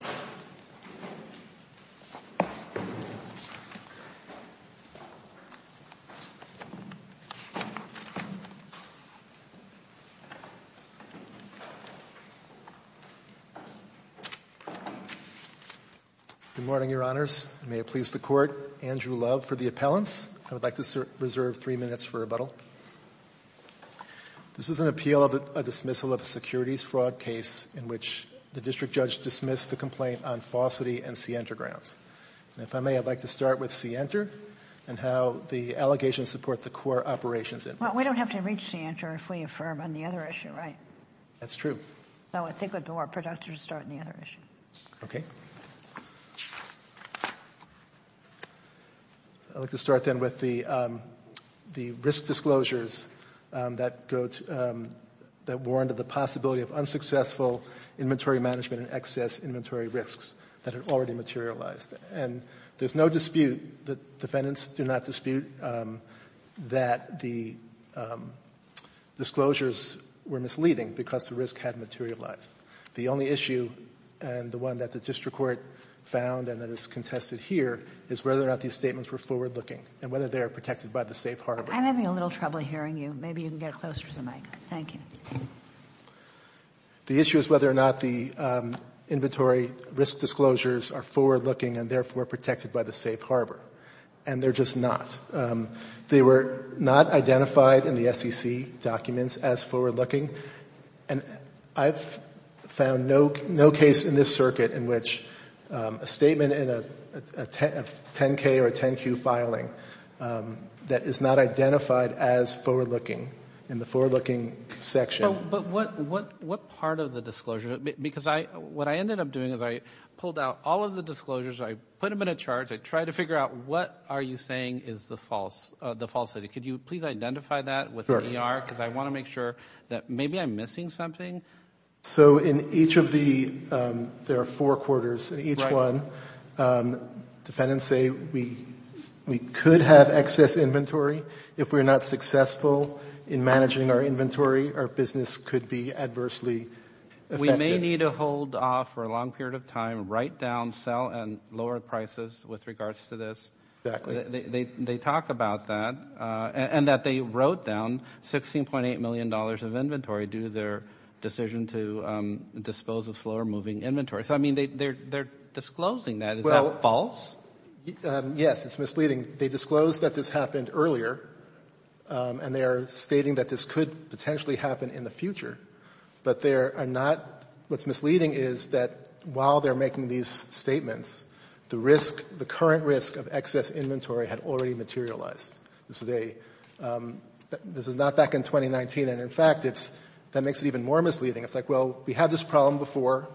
Good morning, Your Honors. May it please the Court, Andrew Love for the appellants. I would like to reserve three minutes for rebuttal. This is an appeal of a dismissal of a securities fraud case in which the district judge dismissed the complaint on falsity and Sienter grounds. And if I may, I'd like to start with Sienter and how the allegations support the core operations in this. Well, we don't have to reach Sienter if we affirm on the other issue, right? That's true. Though I think it would be more productive to start on the other issue. Okay. I'd like to start then with the risk disclosures that warranted the possibility of unsuccessful inventory management and excess inventory risks that had already materialized. And there's no dispute, the defendants do not dispute, that the disclosures were misleading because the risk had materialized. The only issue, and the one that the district court found and that is contested here, is whether or not these statements were forward-looking and whether they are protected by the safe harbor. I'm having a little trouble hearing you. Maybe you can get closer to the mic. Thank you. The issue is whether or not the inventory risk disclosures are forward-looking and therefore protected by the safe harbor. And they're just not. They were not identified in the ICC documents as forward-looking. And I've found no case in this circuit in which a statement in a 10-K or a 10-Q filing that is not identified as forward-looking in the forward-looking section. But what part of the disclosure, because what I ended up doing is I pulled out all of the disclosures, I put them in a chart, I tried to figure out what are you saying is the false data. Could you please identify that with the ER? Because I want to make sure that maybe I'm missing something. So in each of the, there are four quarters in each one. Dependents say we could have excess inventory. If we're not successful in managing our inventory, our business could be adversely affected. We may need to hold off for a long period of time, write down, sell, and lower prices with regards to this. Exactly. So they talk about that. And that they wrote down $16.8 million of inventory due to their decision to dispose of slower-moving inventory. So, I mean, they're disclosing that. Well Is that false? Yes. It's misleading. They disclosed that this happened earlier. And they are stating that this could potentially happen in the future. But there are not, what's misleading is that while they're making these statements, the risk, the current risk of excess inventory had already materialized. This is a, this is not back in 2019. And in fact, it's, that makes it even more misleading. It's like, well, we had this problem before.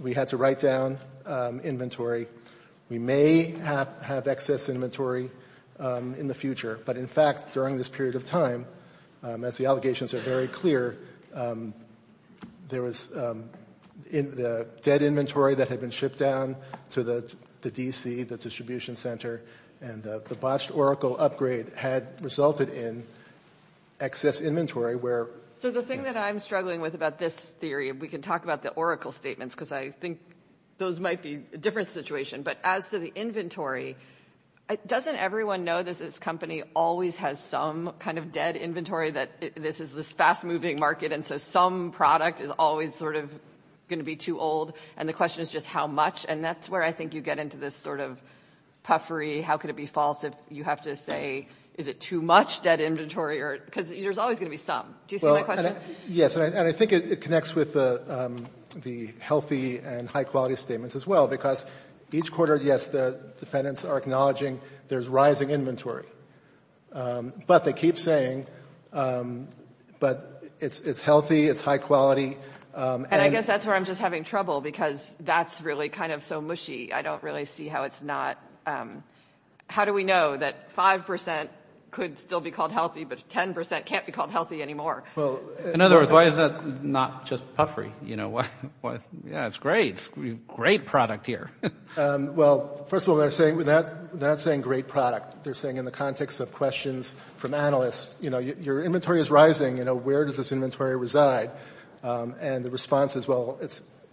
We had to write down inventory. We may have excess inventory in the future. But in fact, during this period of time, as the allegations are very clear, there was, the dead inventory that had been shipped down to the D.C., the distribution center, and the botched Oracle upgrade had resulted in excess inventory where So the thing that I'm struggling with about this theory, and we can talk about the Oracle statements because I think those might be a different situation, but as to the inventory, doesn't everyone know that this company always has some kind of dead inventory, that this is this fast-moving market, and so some product is always sort of going to be too old? And the question is just how much? And that's where I think you get into this sort of puffery, how could it be false if you have to say, is it too much dead inventory? Because there's always going to be some. Do you see my question? Yes. And I think it connects with the healthy and high-quality statements as well. Because each quarter, yes, the defendants are acknowledging there's rising inventory. But they keep saying, but it's healthy, it's high-quality, and And I guess that's where I'm just having trouble, because that's really kind of so mushy. I don't really see how it's not, how do we know that 5% could still be called healthy, but 10% can't be called healthy anymore? Well, in other words, why is that not just puffery? You know, yeah, it's great. Great product here. Well, first of all, they're not saying great product. They're saying in the context of questions from analysts, you know, your inventory is rising, you know, where does this inventory reside? And the response is, well,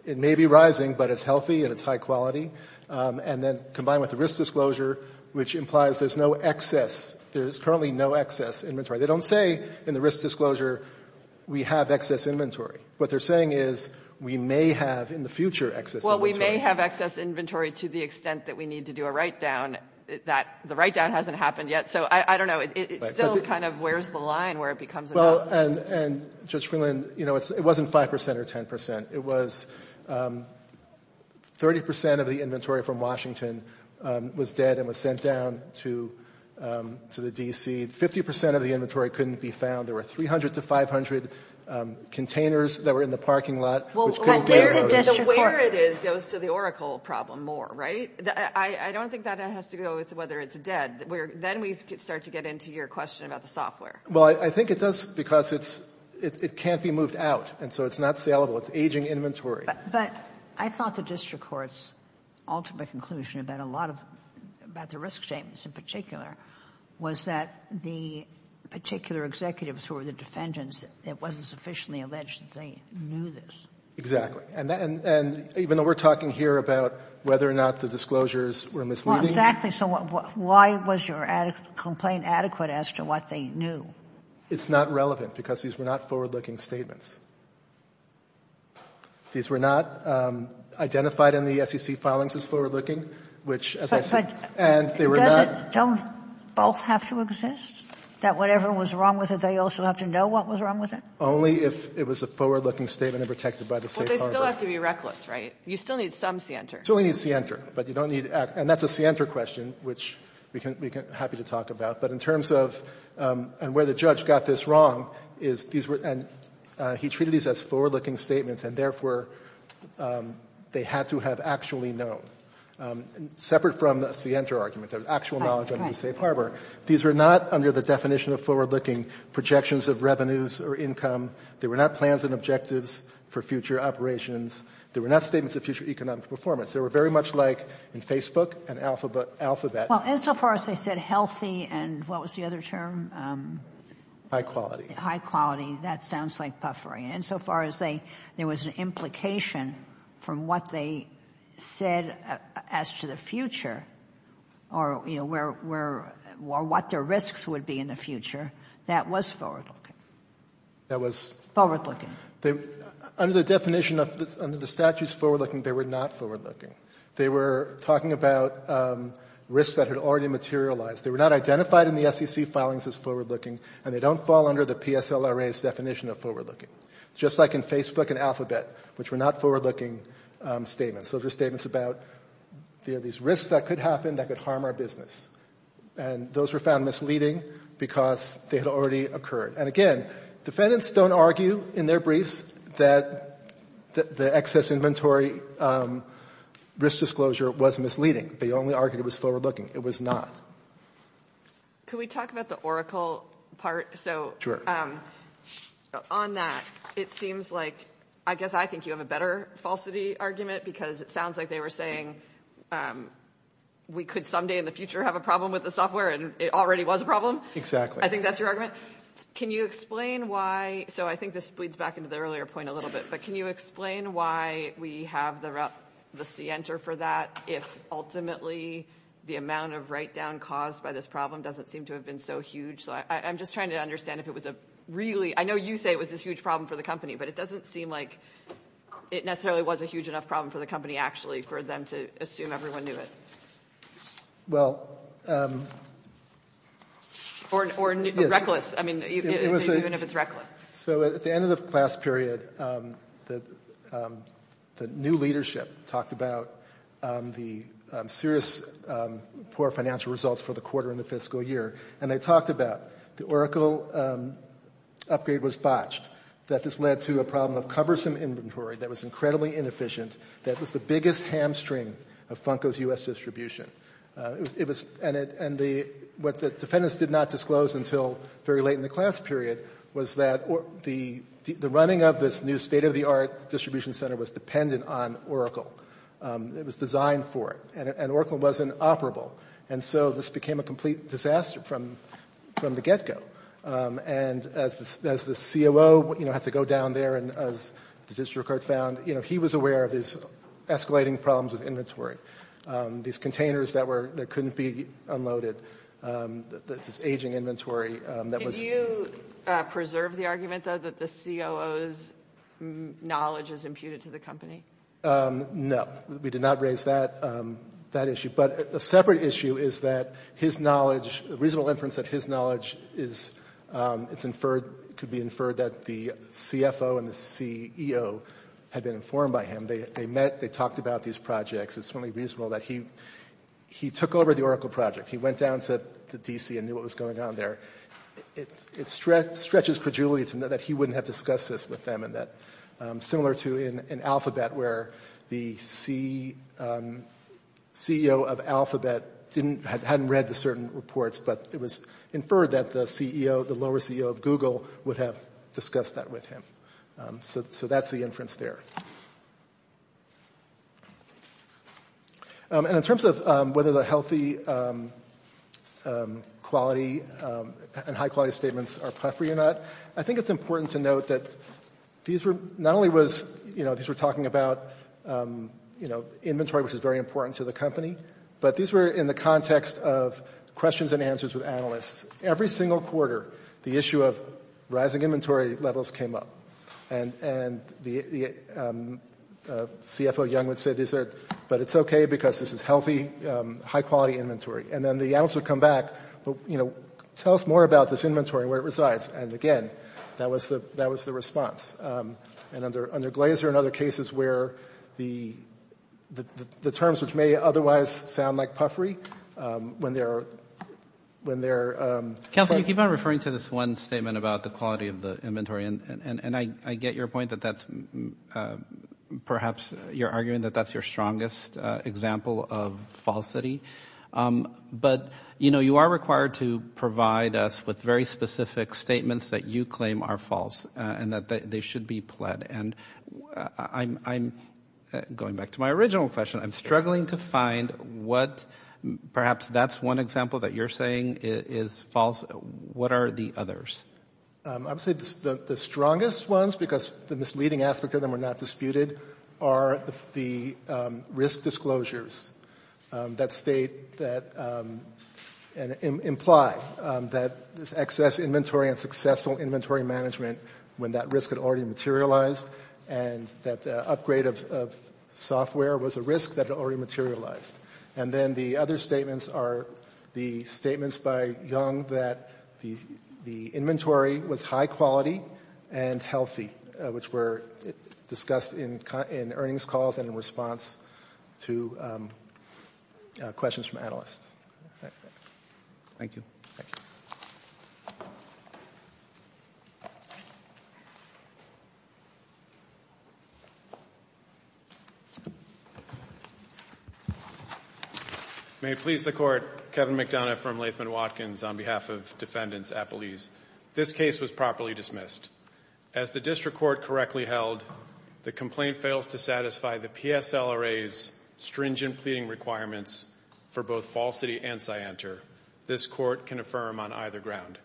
it may be rising, but it's healthy and it's high-quality. And then combined with the risk disclosure, which implies there's no excess, there's currently no excess inventory. They don't say in the risk disclosure, we have excess inventory. What they're saying is, we may have in the future excess inventory. Well, we may have excess inventory to the extent that we need to do a write-down. The write-down hasn't happened yet, so I don't know. It still kind of wears the line where it becomes a loss. Well, and, Judge Freeland, you know, it wasn't 5% or 10%. It was 30% of the inventory from Washington was dead and was sent down to the D.C. 50% of the inventory couldn't be found. There were 300 to 500 containers that were in the parking lot which couldn't So where it is goes to the Oracle problem more, right? I don't think that has to go with whether it's dead. Then we start to get into your question about the software. Well, I think it does because it's — it can't be moved out, and so it's not salable. It's aging inventory. But I thought the district court's ultimate conclusion about a lot of — about the risk statements in particular was that the particular executives who were the defendants, it wasn't sufficiently alleged that they knew this. Exactly. And even though we're talking here about whether or not the disclosures were misleading — Well, exactly. So why was your complaint adequate as to what they knew? It's not relevant because these were not forward-looking statements. These were not identified in the SEC filings as forward-looking, which, as I said — And they were not — Don't both have to exist, that whatever was wrong with it, they also have to know what was wrong with it? Only if it was a forward-looking statement and protected by the safe harbor. Well, they still have to be reckless, right? You still need some scienter. You still need scienter, but you don't need — and that's a scienter question, which we can — we can — happy to talk about. But in terms of — and where the judge got this wrong is these were — and he treated these as forward-looking statements, and therefore they had to have actually known. Separate from the scienter argument, the actual knowledge of the safe harbor, these were not under the definition of forward-looking projections of revenues or income. They were not plans and objectives for future operations. They were not statements of future economic performance. They were very much like, in Facebook, an alphabet. Well, insofar as they said healthy and — what was the other term? High quality. High quality. That sounds like puffery. And insofar as they — there was an implication from what they said as to the future or, you know, where — or what their risks would be in the future, that was forward-looking. That was — Under the definition of — under the statutes forward-looking, they were not forward-looking. They were talking about risks that had already materialized. They were not identified in the SEC filings as forward-looking, and they don't fall under the PSLRA's definition of forward-looking, just like in Facebook and Alphabet, which were not forward-looking statements. Those were statements about these risks that could happen that could harm our business. And those were found misleading because they had already occurred. And again, defendants don't argue in their briefs that the excess inventory risk disclosure was misleading. They only argued it was forward-looking. It was not. Can we talk about the Oracle part? Sure. On that, it seems like — I guess I think you have a better falsity argument because it sounds like they were saying we could someday in the future have a problem with the software, and it already was a problem. Exactly. I think that's your argument. Can you explain why — so I think this bleeds back into the earlier point a little bit, but can you explain why we have the Center for that if ultimately the amount of write-down caused by this problem doesn't seem to have been so huge? So I'm just trying to understand if it was a really — I know you say it was this huge problem for the company, but it doesn't seem like it necessarily was a huge enough problem for the company, actually, for them to assume everyone knew it. Well — Or reckless. I mean, even if it's reckless. So at the end of the class period, the new leadership talked about the serious poor financial results for the quarter in the fiscal year, and they talked about the Oracle upgrade was botched, that this led to a problem of cumbersome inventory that was incredibly inefficient, that was the biggest hamstring of Funko's U.S. distribution. And what the defendants did not disclose until very late in the class period was that the running of this new state-of-the-art distribution center was dependent on Oracle. It was designed for it, and Oracle wasn't operable. And so this became a complete disaster from the get-go. And as the COO had to go down there, and as the district court found, he was aware of escalating problems with inventory. These containers that couldn't be unloaded, this aging inventory that was — Did you preserve the argument, though, that the COO's knowledge is imputed to the company? No. We did not raise that issue. But a separate issue is that his knowledge — reasonable inference that his knowledge could be inferred that the CFO and the CEO had been informed by him. They met, they talked about these projects. It's only reasonable that he took over the Oracle project. He went down to D.C. and knew what was going on there. It stretches credulity to know that he wouldn't have discussed this with them, and that — similar to in Alphabet, where the CEO of Alphabet hadn't read the certain reports, but it was inferred that the CEO, the lower CEO of Google, would have discussed that with him. So that's the inference there. And in terms of whether the healthy quality and high-quality statements are preferable or not, I think it's important to note that these were not only was — you know, these were talking about, you know, inventory, which is very important to the company, but these were in the context of questions and answers with analysts. Every single quarter, the issue of rising inventory levels came up. And the CFO Young would say, but it's okay, because this is healthy, high-quality inventory. And then the analyst would come back, you know, tell us more about this inventory and where it resides. And again, that was the response. And under Glazer and other cases where the terms which may otherwise sound like puffery, when they're — Counsel, you keep on referring to this one statement about the quality of the inventory, and I get your point that that's — perhaps you're arguing that that's your strongest example of falsity. But, you know, you are required to provide us with very specific statements that you claim are false and that they should be pled. And I'm — going back to my original question, I'm struggling to find what — perhaps that's one example that you're saying is false. What are the others? I would say the strongest ones, because the misleading aspect of them are not disputed, are the risk disclosures that state that — and imply that there's excess inventory and successful inventory management when that risk had already materialized and that the upgrade of software was a risk that had already materialized. And then the other statements are the statements by Young that the inventory was high quality and healthy, which were discussed in earnings calls and in response to questions from analysts. Thank you. May it please the Court, Kevin McDonough from Latham and Watkins on behalf of defendants at Belize. This case was properly dismissed. As the district court correctly held, the complaint fails to satisfy the PSLRA's stringent pleading requirements for both falsity and scienter. This court can affirm on either ground.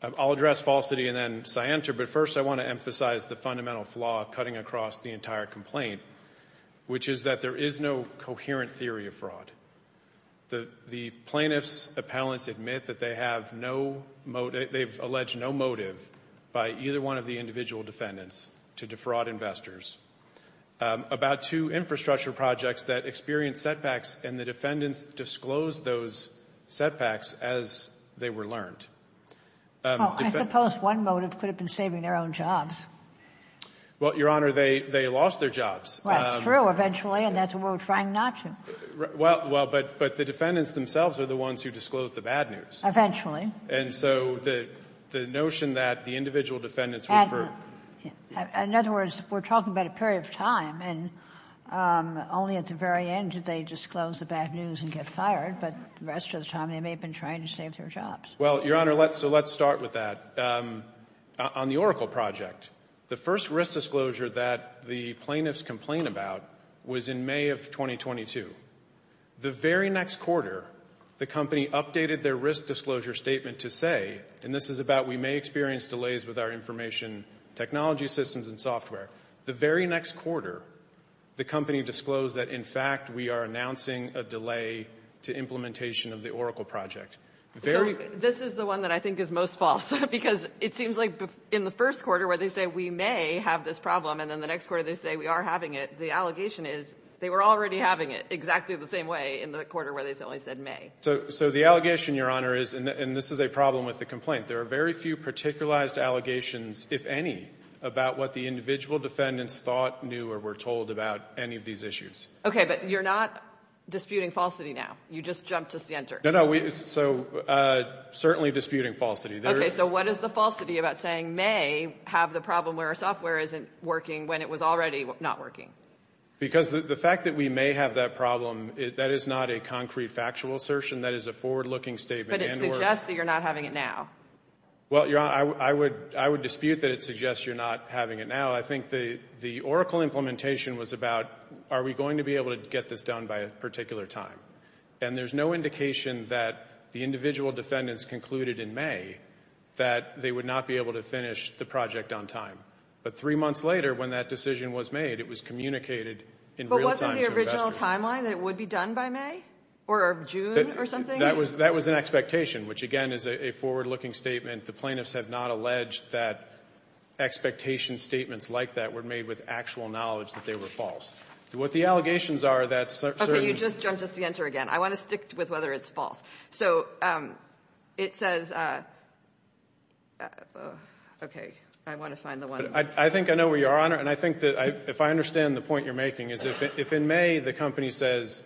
I'll address falsity and then scienter, but first I want to emphasize the fundamental flaw cutting across the entire complaint, which is that there is no coherent theory of fraud. The plaintiffs' appellants admit that they have no — they've alleged no motive by either one of the individual defendants to defraud investors about two infrastructure projects that experienced setbacks, and the defendants disclosed those setbacks as they were learned. I suppose one motive could have been saving their own jobs. Well, Your Honor, they lost their jobs. Well, that's true, eventually, and that's what we're trying not to. Well, but the defendants themselves are the ones who disclosed the bad news. Eventually. And so the notion that the individual defendants were — In other words, we're talking about a period of time, and only at the very end did they disclose the bad news and get fired, but the rest of the time they may have been trying to save their jobs. Well, Your Honor, so let's start with that. On the Oracle project, the first risk disclosure that the plaintiffs complained about was in May of 2022. The very next quarter, the company updated their risk disclosure statement to say — and this is about we may experience delays with our information technology systems and software — the very next quarter, the company disclosed that, in fact, we are announcing a delay to implementation of the Oracle project. This is the one that I think is most false, because it seems like in the first quarter where they say we may have this problem, and then the next quarter they say we are having it, the allegation is they were already having it exactly the same way in the quarter where they only said may. So the allegation, Your Honor, is — and this is a problem with the complaint — there are very few particularized allegations, if any, about what the individual defendants thought, knew, or were told about any of these issues. OK, but you're not disputing falsity now. You just jumped us the answer. No, no, so certainly disputing falsity. OK, so what is the falsity about saying may have the problem where our software isn't working when it was already not working? Because the fact that we may have that problem, that is not a concrete factual assertion. That is a forward-looking statement. But it suggests that you're not having it now. Well, Your Honor, I would dispute that it suggests you're not having it now. I think the Oracle implementation was about are we going to be able to get this done by a particular time? And there's no indication that the individual defendants concluded in May that they would not be able to finish the project on time. But three months later, when that decision was made, it was communicated in real time to the investigators. But wasn't the original timeline that it would be done by May? Or June or something? That was an expectation, which, again, is a forward-looking statement. The plaintiffs have not alleged that expectation statements like that were made with actual knowledge that they were false. What the allegations are, that certain — You just jumped us the answer again. I want to stick with whether it's false. So it says — okay. I want to find the one — I think I know where you are, Your Honor. And I think that if I understand the point you're making, is if in May the company says,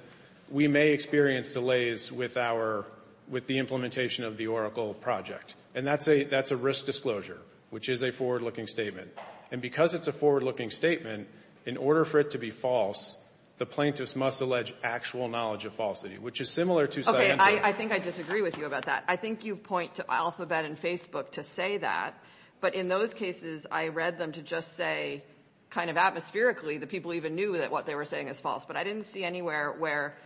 we may experience delays with our — with the implementation of the Oracle project, and that's a — that's a risk disclosure, which is a forward-looking statement. And because it's a forward-looking statement, in order for it to be false, the plaintiffs must allege actual knowledge of falsity, which is similar to — Okay. I think I disagree with you about that. I think you point to Alphabet and Facebook to say that. But in those cases, I read them to just say, kind of atmospherically, that people even knew that what they were saying is false. But I didn't see anywhere where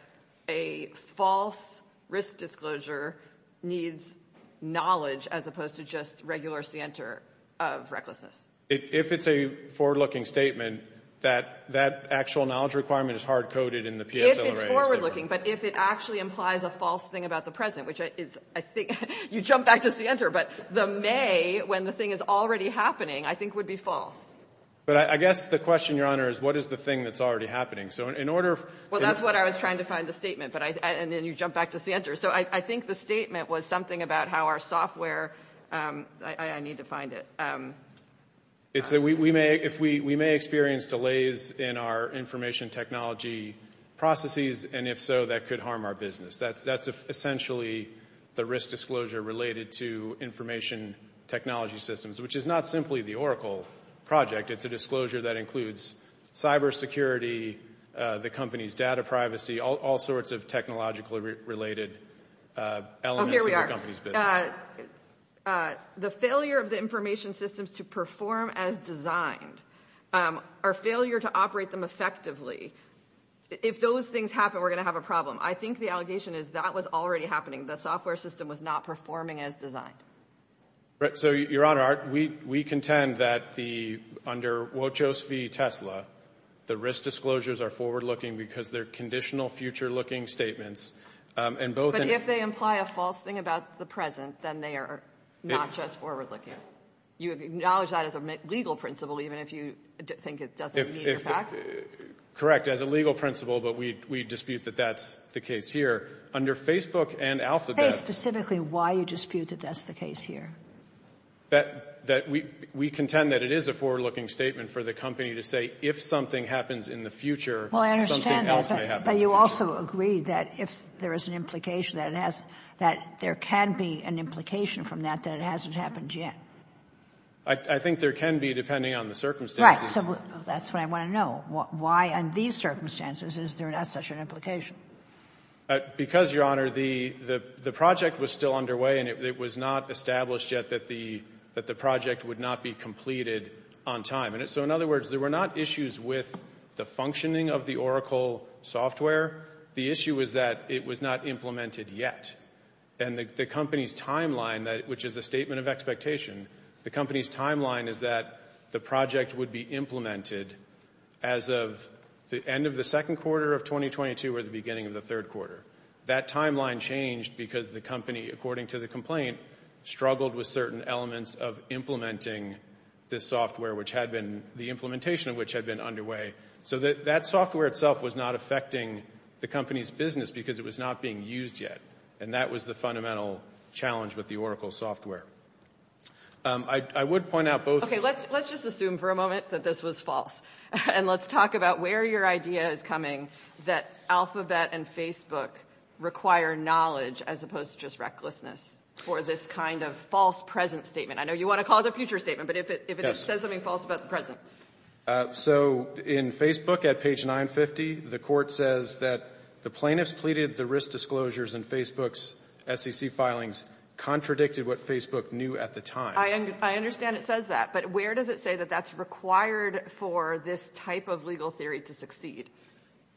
a false risk disclosure needs knowledge as opposed to just regular scienter of recklessness. If it's a forward-looking statement, that actual knowledge requirement is hard-coded in the PSLRA. If it's forward-looking, but if it actually implies a false thing about the present, which is — I think — you jump back to Sienter, but the May, when the thing is already happening, I think would be false. But I guess the question, Your Honor, is what is the thing that's already happening? So in order — Well, that's what I was trying to find the statement, but I — and then you jump back to Sienter. So I think the statement was something about how our software — I need to find it. It's — we may — if we — we may experience delays in our information technology processes, and if so, that could harm our business. That's — that's essentially the risk disclosure related to information technology systems, which is not simply the Oracle project. It's a disclosure that includes cybersecurity, the company's data privacy, all sorts of technologically-related elements of the company's business. But the failure of the information systems to perform as designed, our failure to operate them effectively, if those things happen, we're going to have a problem. I think the allegation is that was already happening. The software system was not performing as designed. So, Your Honor, we contend that the — under Wojcicki v. Tesla, the risk disclosures are forward-looking because they're conditional future-looking statements, and both — If you imply a false thing about the present, then they are not just forward-looking. You acknowledge that as a legal principle, even if you think it doesn't meet your facts? Correct. As a legal principle, but we dispute that that's the case here. Under Facebook and Alphabet — Say specifically why you dispute that that's the case here. That — that we — we contend that it is a forward-looking statement for the company to say, if something happens in the future, something else may happen in the future. Agreed that if there is an implication that it has — that there can be an implication from that that it hasn't happened yet. I think there can be, depending on the circumstances. Right, so that's what I want to know. Why, under these circumstances, is there not such an implication? Because, Your Honor, the project was still underway, and it was not established yet that the project would not be completed on time. And so, in other words, there were not issues with the functioning of the Oracle software. The issue is that it was not implemented yet. And the company's timeline, which is a statement of expectation, the company's timeline is that the project would be implemented as of the end of the second quarter of 2022 or the beginning of the third quarter. That timeline changed because the company, according to the complaint, struggled with certain elements of implementing this software, which had been — the implementation of which had been underway. So that software itself was not affecting the company's business because it was not being used yet. And that was the fundamental challenge with the Oracle software. I would point out both — Okay, let's just assume for a moment that this was false. And let's talk about where your idea is coming, that Alphabet and Facebook require knowledge as opposed to just recklessness for this kind of false present statement. I know you want to cause a future statement, but if it says something false about the present. So in Facebook, at page 950, the court says that the plaintiffs pleaded the risk disclosures in Facebook's SEC filings contradicted what Facebook knew at the time. I understand it says that, but where does it say that that's required for this type of legal theory to succeed,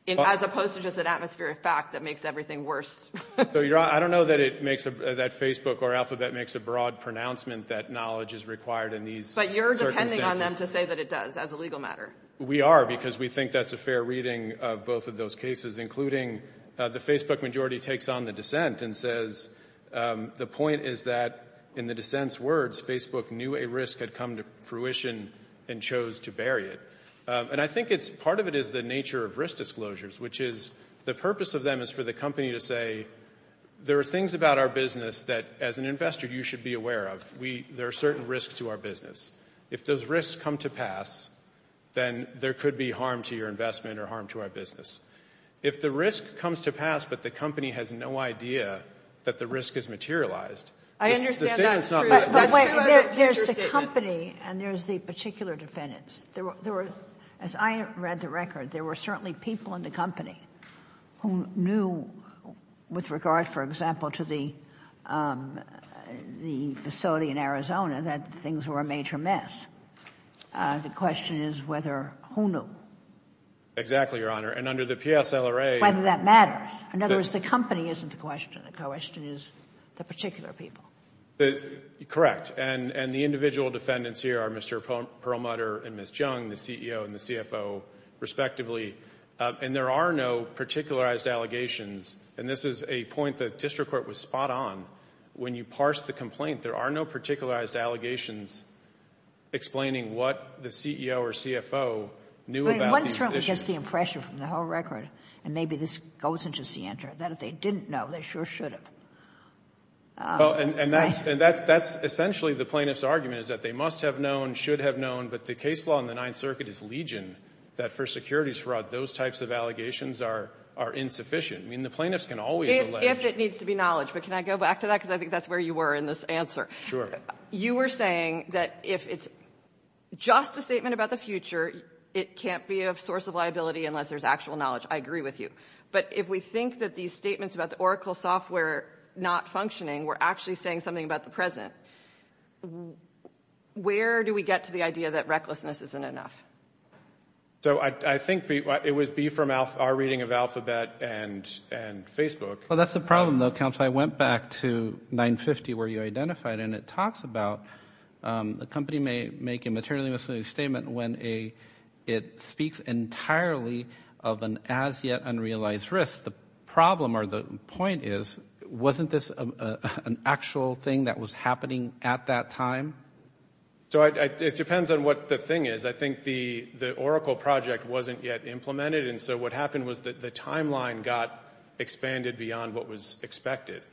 as opposed to just an atmospheric fact that makes everything worse? So I don't know that it makes — that Facebook or Alphabet makes a broad pronouncement that knowledge is required in these circumstances. But you're depending on them to say that it does, as a legal matter. We are, because we think that's a fair reading of both of those cases, including the Facebook majority takes on the dissent and says the point is that, in the dissent's words, Facebook knew a risk had come to fruition and chose to bury it. And I think it's — part of it is the nature of risk disclosures, which is — the purpose of them is for the company to say, there are things about our business that, as an investor, you should be aware of. There are certain risks to our business. If those risks come to pass, then there could be harm to your investment or harm to our If the risk comes to pass, but the company has no idea that the risk has materialized — I understand that. But wait, there's the company, and there's the particular defendants. As I read the record, there were certainly people in the company who knew, with regard, for example, to the facility in Arizona, that things were a major mess. The question is whether — who knew? Exactly, Your Honor. And under the PSLRA — Whether that matters. In other words, the company isn't the question. The question is the particular people. Correct. And the individual defendants here are Mr. Perlmutter and Ms. Jung, the CEO and the CFO, respectively. And there are no particularized allegations. And this is a point that district court was spot on. When you parse the complaint, there are no particularized allegations explaining what the CEO or CFO knew about these issues. One certainly gets the impression from the whole record, and maybe this goes into the answer, that if they didn't know, they sure should have. Well, and that's essentially the plaintiff's argument, is that they must have known, should have known, but the case law in the Ninth Circuit is legion, that for securities fraud, those types of allegations are insufficient. The plaintiffs can always allege — If it needs to be knowledge. But can I go back to that? Because I think that's where you were in this answer. You were saying that if it's just a statement about the future, it can't be a source of liability unless there's actual knowledge. I agree with you. But if we think that these statements about the Oracle software not functioning, we're actually saying something about the present. Where do we get to the idea that recklessness isn't enough? So I think it would be from our reading of Alphabet and Facebook. Well, that's the problem, though, Counselor. I went back to 950 where you identified, and it talks about the company may make a materially misleading statement when it speaks entirely of an as-yet-unrealized risk. The problem or the point is, wasn't this an actual thing that was happening at that time? So it depends on what the thing is. I think the Oracle project wasn't yet implemented. And so what happened was that the timeline got expanded beyond what was expected.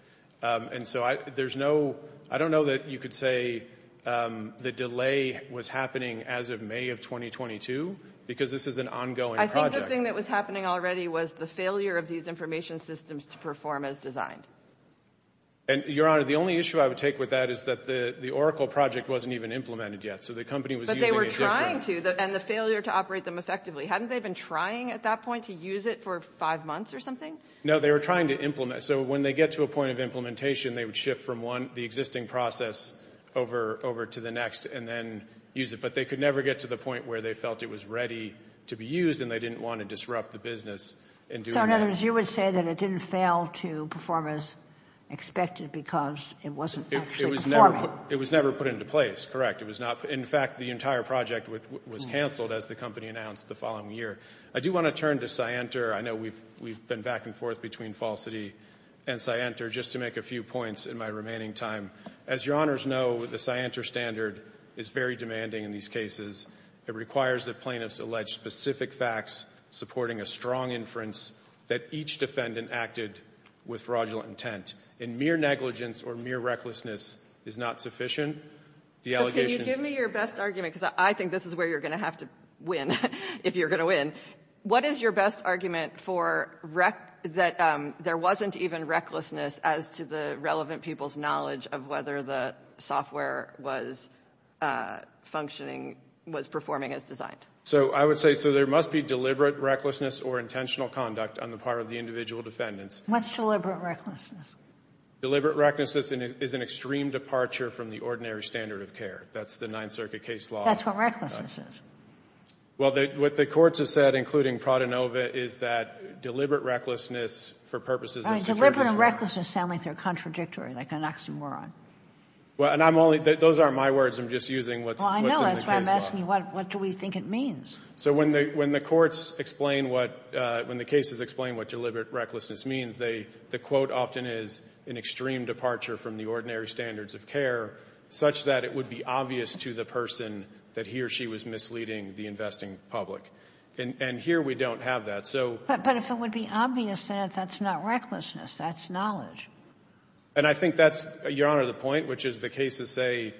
And so there's no—I don't know that you could say the delay was happening as of May of 2022, because this is an ongoing project. I think the thing that was happening already was the failure of these information systems to perform as designed. And, Your Honor, the only issue I would take with that is that the Oracle project wasn't even implemented yet. But they were trying to, and the failure to operate them effectively. Hadn't they been trying at that point to use it for five months or something? No, they were trying to implement. So when they get to a point of implementation, they would shift from the existing process over to the next and then use it. But they could never get to the point where they felt it was ready to be used and they didn't want to disrupt the business in doing that. So, in other words, you would say that it didn't fail to perform as expected because it wasn't actually performing? It was never put into place, correct. In fact, the entire project was canceled as the company announced the following year. I do want to turn to Scienter. I know we've been back and forth between Falsity and Scienter, just to make a few points in my remaining time. As Your Honors know, the Scienter standard is very demanding in these cases. It requires that plaintiffs allege specific facts supporting a strong inference that each defendant acted with fraudulent intent. And mere negligence or mere recklessness is not sufficient. Can you give me your best argument? Because I think this is where you're going to have to win, if you're going to win. What is your best argument for that there wasn't even recklessness as to the relevant people's knowledge of whether the software was functioning, was performing as designed? So I would say, so there must be deliberate recklessness or intentional conduct on the part of the individual defendants. What's deliberate recklessness? Deliberate recklessness is an extreme departure from the ordinary standard of care. That's the Ninth Circuit case law. That's what recklessness is. Well, what the courts have said, including Pradenova, is that deliberate recklessness for purposes of security. Deliberate and recklessness sound like they're contradictory, like an oxymoron. Well, and I'm only, those aren't my words. I'm just using what's in the case law. I know, that's why I'm asking you, what do we think it means? So when the courts explain what, when the cases explain what deliberate recklessness means, the quote often is an extreme departure from the ordinary standards of care such that it would be obvious to the person that he or she was misleading the investing public. And here we don't have that. But if it would be obvious, then that's not recklessness. That's knowledge. And I think that's, Your Honor, the point, which is the case to say,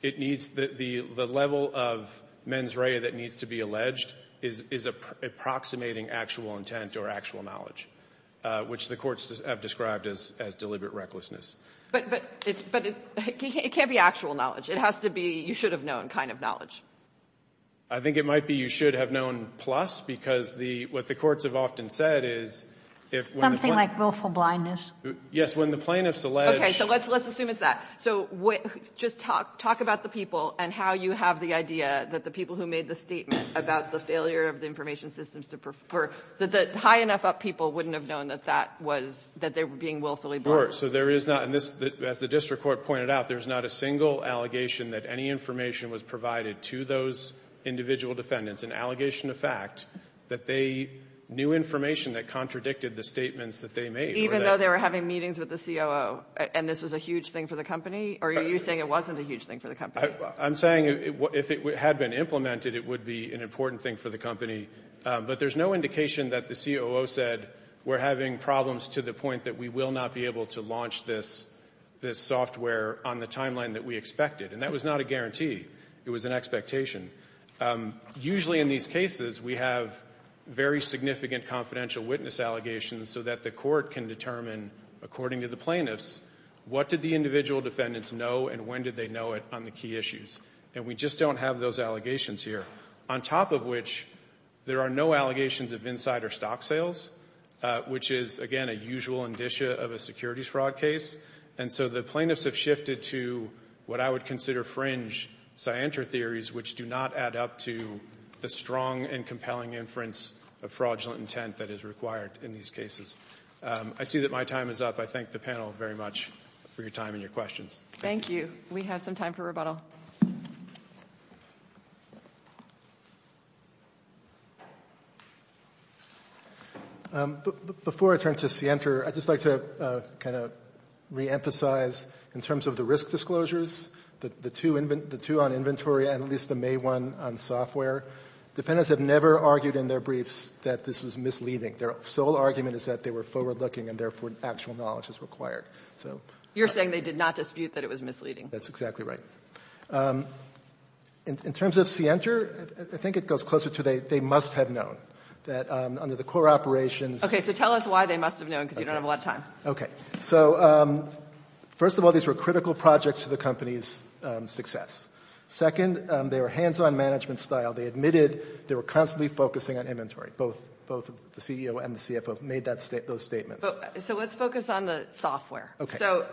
it needs, the level of mens rea that needs to be alleged is approximating actual intent or actual knowledge, which the courts have described as deliberate recklessness. But it's, but it can't be actual knowledge. It has to be you should have known kind of knowledge. I think it might be you should have known plus, because the, what the courts have often said is, if when the plaintiffs. Something like willful blindness. Yes, when the plaintiffs allege. Okay, so let's assume it's that. So just talk about the people and how you have the idea that the people who made the statement about the failure of the information systems to prefer, that the high enough up people wouldn't have known that that was, that they were being willfully blind. So there is not, and this, as the district court pointed out, there's not a single allegation that any information was provided to those individual defendants. An allegation of fact that they knew information that contradicted the statements that they made. Even though they were having meetings with the COO, and this was a huge thing for the company, or are you saying it wasn't a huge thing for the company? I'm saying if it had been implemented, it would be an important thing for the company. But there's no indication that the COO said, we're having problems to the point that we will not be able to launch this, this software on the timeline that we expected. And that was not a guarantee. It was an expectation. Usually in these cases, we have very significant confidential witness allegations so that the court can determine, according to the plaintiffs, what did the individual defendants know and when did they know it on the key issues. And we just don't have those allegations here. On top of which, there are no allegations of insider stock sales, which is, again, a usual indicia of a securities fraud case. And so the plaintiffs have shifted to what I would consider fringe, scienter theories which do not add up to the strong and compelling inference of fraudulent intent that is required in these cases. I see that my time is up. I thank the panel very much for your time and your questions. Thank you. We have some time for rebuttal. Before I turn to scienter, I'd just like to kind of reemphasize in terms of the risk disclosures, the two on inventory and at least the May one on software. Defendants have never argued in their briefs that this was misleading. Their sole argument is that they were forward-looking and therefore actual knowledge is required. So... You're saying they did not dispute that it was misleading. That's exactly right. In terms of scienter, the plaintiffs have never argued in their briefs I think it goes closer to they must have known that under the core operations... Okay. So tell us why they must have known because you don't have a lot of time. Okay. So first of all, these were critical projects to the company's success. Second, they were hands-on management style. They admitted they were constantly focusing on inventory. Both the CEO and the CFO made those statements. So let's focus on the software. Okay. So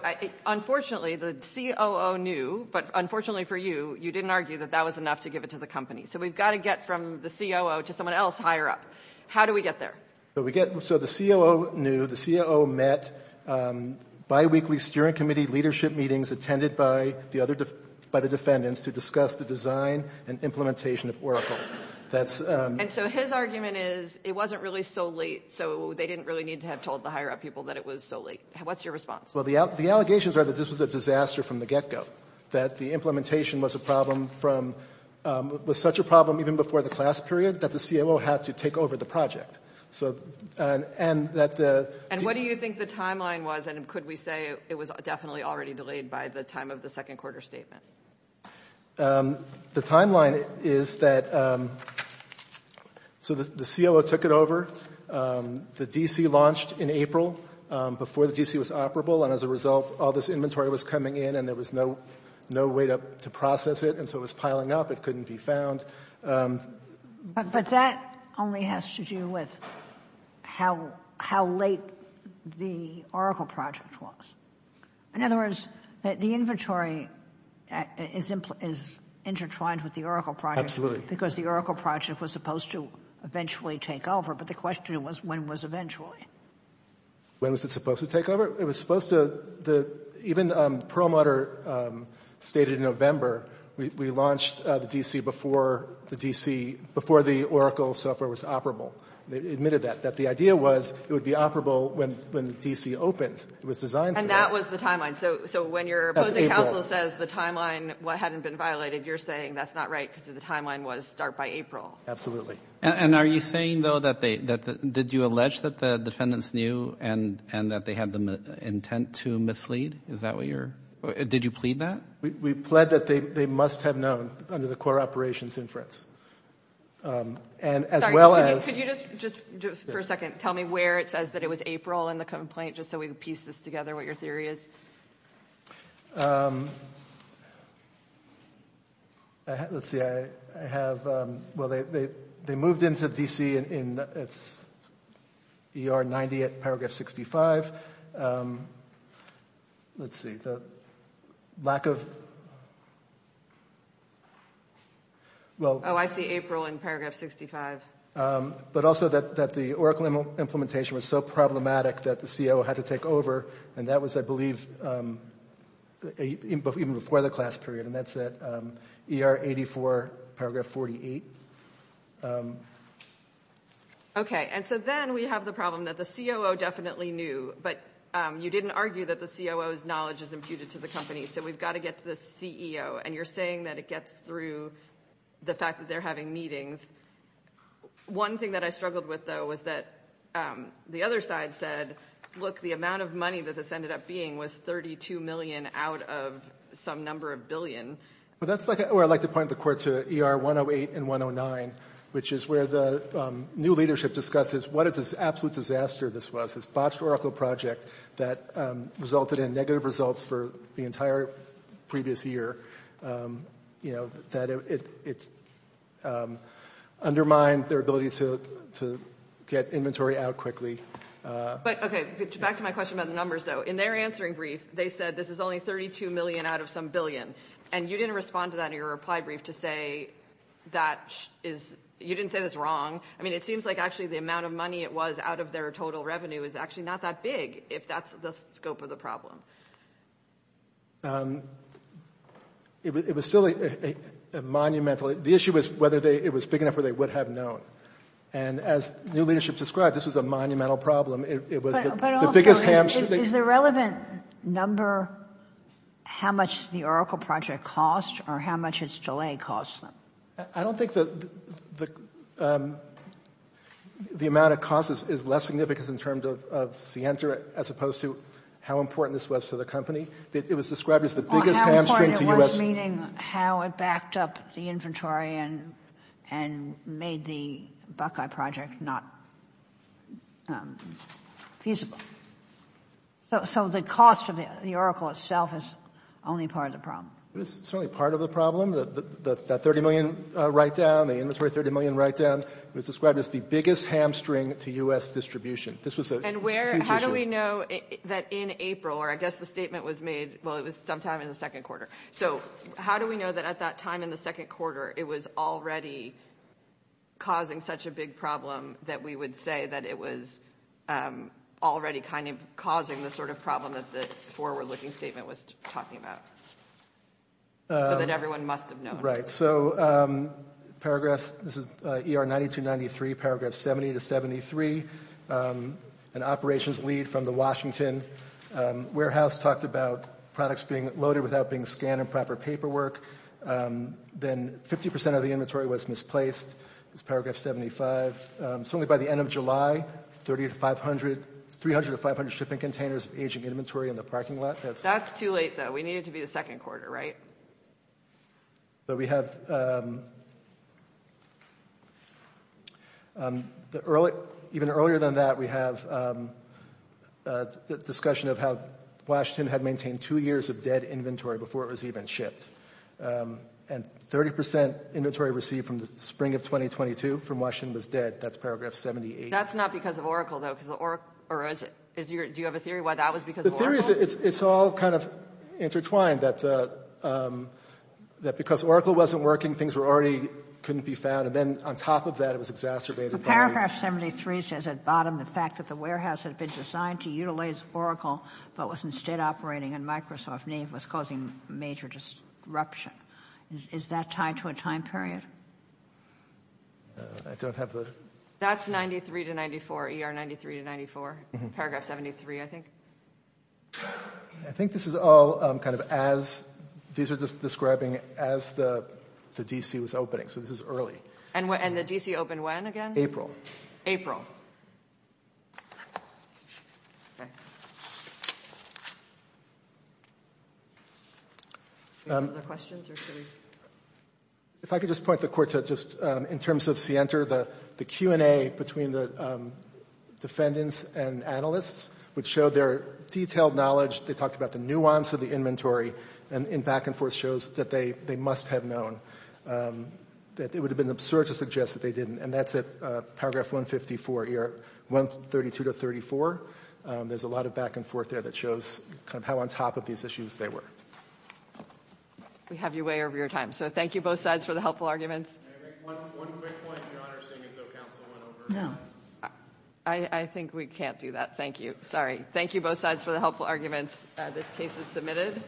unfortunately, the COO knew, but unfortunately for you, you didn't argue that that was enough to give it to the company. So we've got to get from the COO to someone else higher up. How do we get there? So we get... So the COO knew, the COO met biweekly steering committee leadership meetings attended by the other... by the defendants to discuss the design and implementation of Oracle. That's... And so his argument is it wasn't really so late, so they didn't really need to have told the higher up people that it was so late. What's your response? Well, the allegations are that this was a disaster from the get-go. That the implementation was a problem from... was such a problem even before the class period that the COO had to take over the project. So... And that the... And what do you think the timeline was? And could we say it was definitely already delayed by the time of the second quarter statement? The timeline is that... So the COO took it over. The DC launched in April before the DC was operable. And as a result, all this inventory was coming in there was no way to process it. And so it was piling up. It couldn't be found. But that only has to do with how late the Oracle project was. In other words, the inventory is intertwined with the Oracle project. Absolutely. Because the Oracle project was supposed to eventually take over. But the question was when was eventually? When was it supposed to take over? It was supposed to... Even Perlmutter stated in November, we launched the DC before the DC... Before the Oracle software was operable. They admitted that. That the idea was it would be operable when the DC opened. It was designed for that. And that was the timeline. So when your opposing counsel says the timeline hadn't been violated, you're saying that's not right because the timeline was start by April. Absolutely. And are you saying though that they... Did you allege that the defendants knew and that they had the intent to mislead? Is that what you're... Did you plead that? We pled that they must have known under the core operations inference. And as well as... Could you just, for a second, tell me where it says that it was April in the complaint, just so we can piece this together, what your theory is? Let's see, I have... Well, they moved into DC and it's ER 90 at paragraph 65. Let's see, the lack of... Well... Oh, I see April in paragraph 65. But also that the Oracle implementation was so problematic that the CO had to take over. And that was, I believe, even before the class period. And that's at ER 84, paragraph 48. Okay. And so then we have the problem that the COO definitely knew, but you didn't argue that the COO's knowledge is imputed to the company. So we've got to get to the CEO. And you're saying that it gets through the fact that they're having meetings. One thing that I struggled with though was that the other side said, look, the amount of money that this ended up being was $32 million out of some number of billion. Well, that's where I'd like to point the court to ER 108 and 109, which is where the new leadership discusses what an absolute disaster this was, this botched Oracle project that resulted in negative results for the entire previous year. You know, that it undermined their ability to get inventory out quickly. But okay, back to my question about the numbers though. In their answering brief, they said this is only $32 million out of some billion. And you didn't respond to that in your reply brief to say that is, you didn't say that's wrong. I mean, it seems like actually the amount of money it was out of their total revenue is actually not that big if that's the scope of the problem. It was still a monumental, the issue was whether it was big enough where they would have known. And as new leadership described, this was a monumental problem. Is the relevant number how much the Oracle project cost or how much its delay cost them? I don't think the amount of cost is less significant in terms of Cienta as opposed to how important this was to the company. It was described as the biggest hamstring to U.S. Meaning how it backed up the inventory and made the Buckeye project not feasible. So the cost of the Oracle itself is only part of the problem. It was certainly part of the problem, that $30 million write down, the inventory $30 million write down. It was described as the biggest hamstring to U.S. distribution. How do we know that in April, or I guess the statement was made, well, it was sometime in the second quarter. So how do we know that at that time in the second quarter, it was already causing such a big problem that we would say that it was already kind of causing the sort of problem that the forward-looking statement was talking about? That everyone must have known. Right. So paragraph, this is ER 9293, paragraph 70 to 73, an operations lead from the Washington warehouse talked about products being loaded without being scanned in proper paperwork. Then 50% of the inventory was misplaced. This is paragraph 75. Certainly by the end of July, 300 to 500 shipping containers of aging inventory in the parking lot. That's too late, though. We need it to be the second quarter, right? But we have, even earlier than that, we have a discussion of how Washington had maintained two years of dead inventory before it was even shipped. And 30% inventory received from the spring of 2022 from Washington was dead. That's paragraph 78. That's not because of Oracle, though, because the Oracle, or is it, is your, do you have a theory why that was because of Oracle? The theory is it's all kind of intertwined, that because Oracle wasn't working, things were already, couldn't be found. And then on top of that, it was exacerbated by- Paragraph 73 says at bottom, the fact that the warehouse had been designed to utilize Oracle, but was instead operating in Microsoft Nave, was causing major disruption. Is that tied to a time period? I don't have the- That's 93 to 94, ER 93 to 94, paragraph 73, I think. I think this is all kind of as, these are just describing as the DC was opening. So this is early. And the DC opened when, again? April. April. Any other questions or theories? If I could just point the court to just, in terms of Sienter, the Q and A between the defendants and analysts, which showed their detailed knowledge, they talked about the nuance of the inventory, and in back and forth shows that they must have known, that it would have been absurd to suggest that they didn't. And that's at paragraph 154, ER 132 to 34. There's a lot of back and forth there that shows kind of how on top of these issues they were. We have you way over your time. So thank you both sides for the helpful arguments. Can I make one quick point, Your Honor, seeing as though counsel went over? No. I think we can't do that. Thank you. Sorry. Thank you both sides for the helpful arguments. This case is submitted.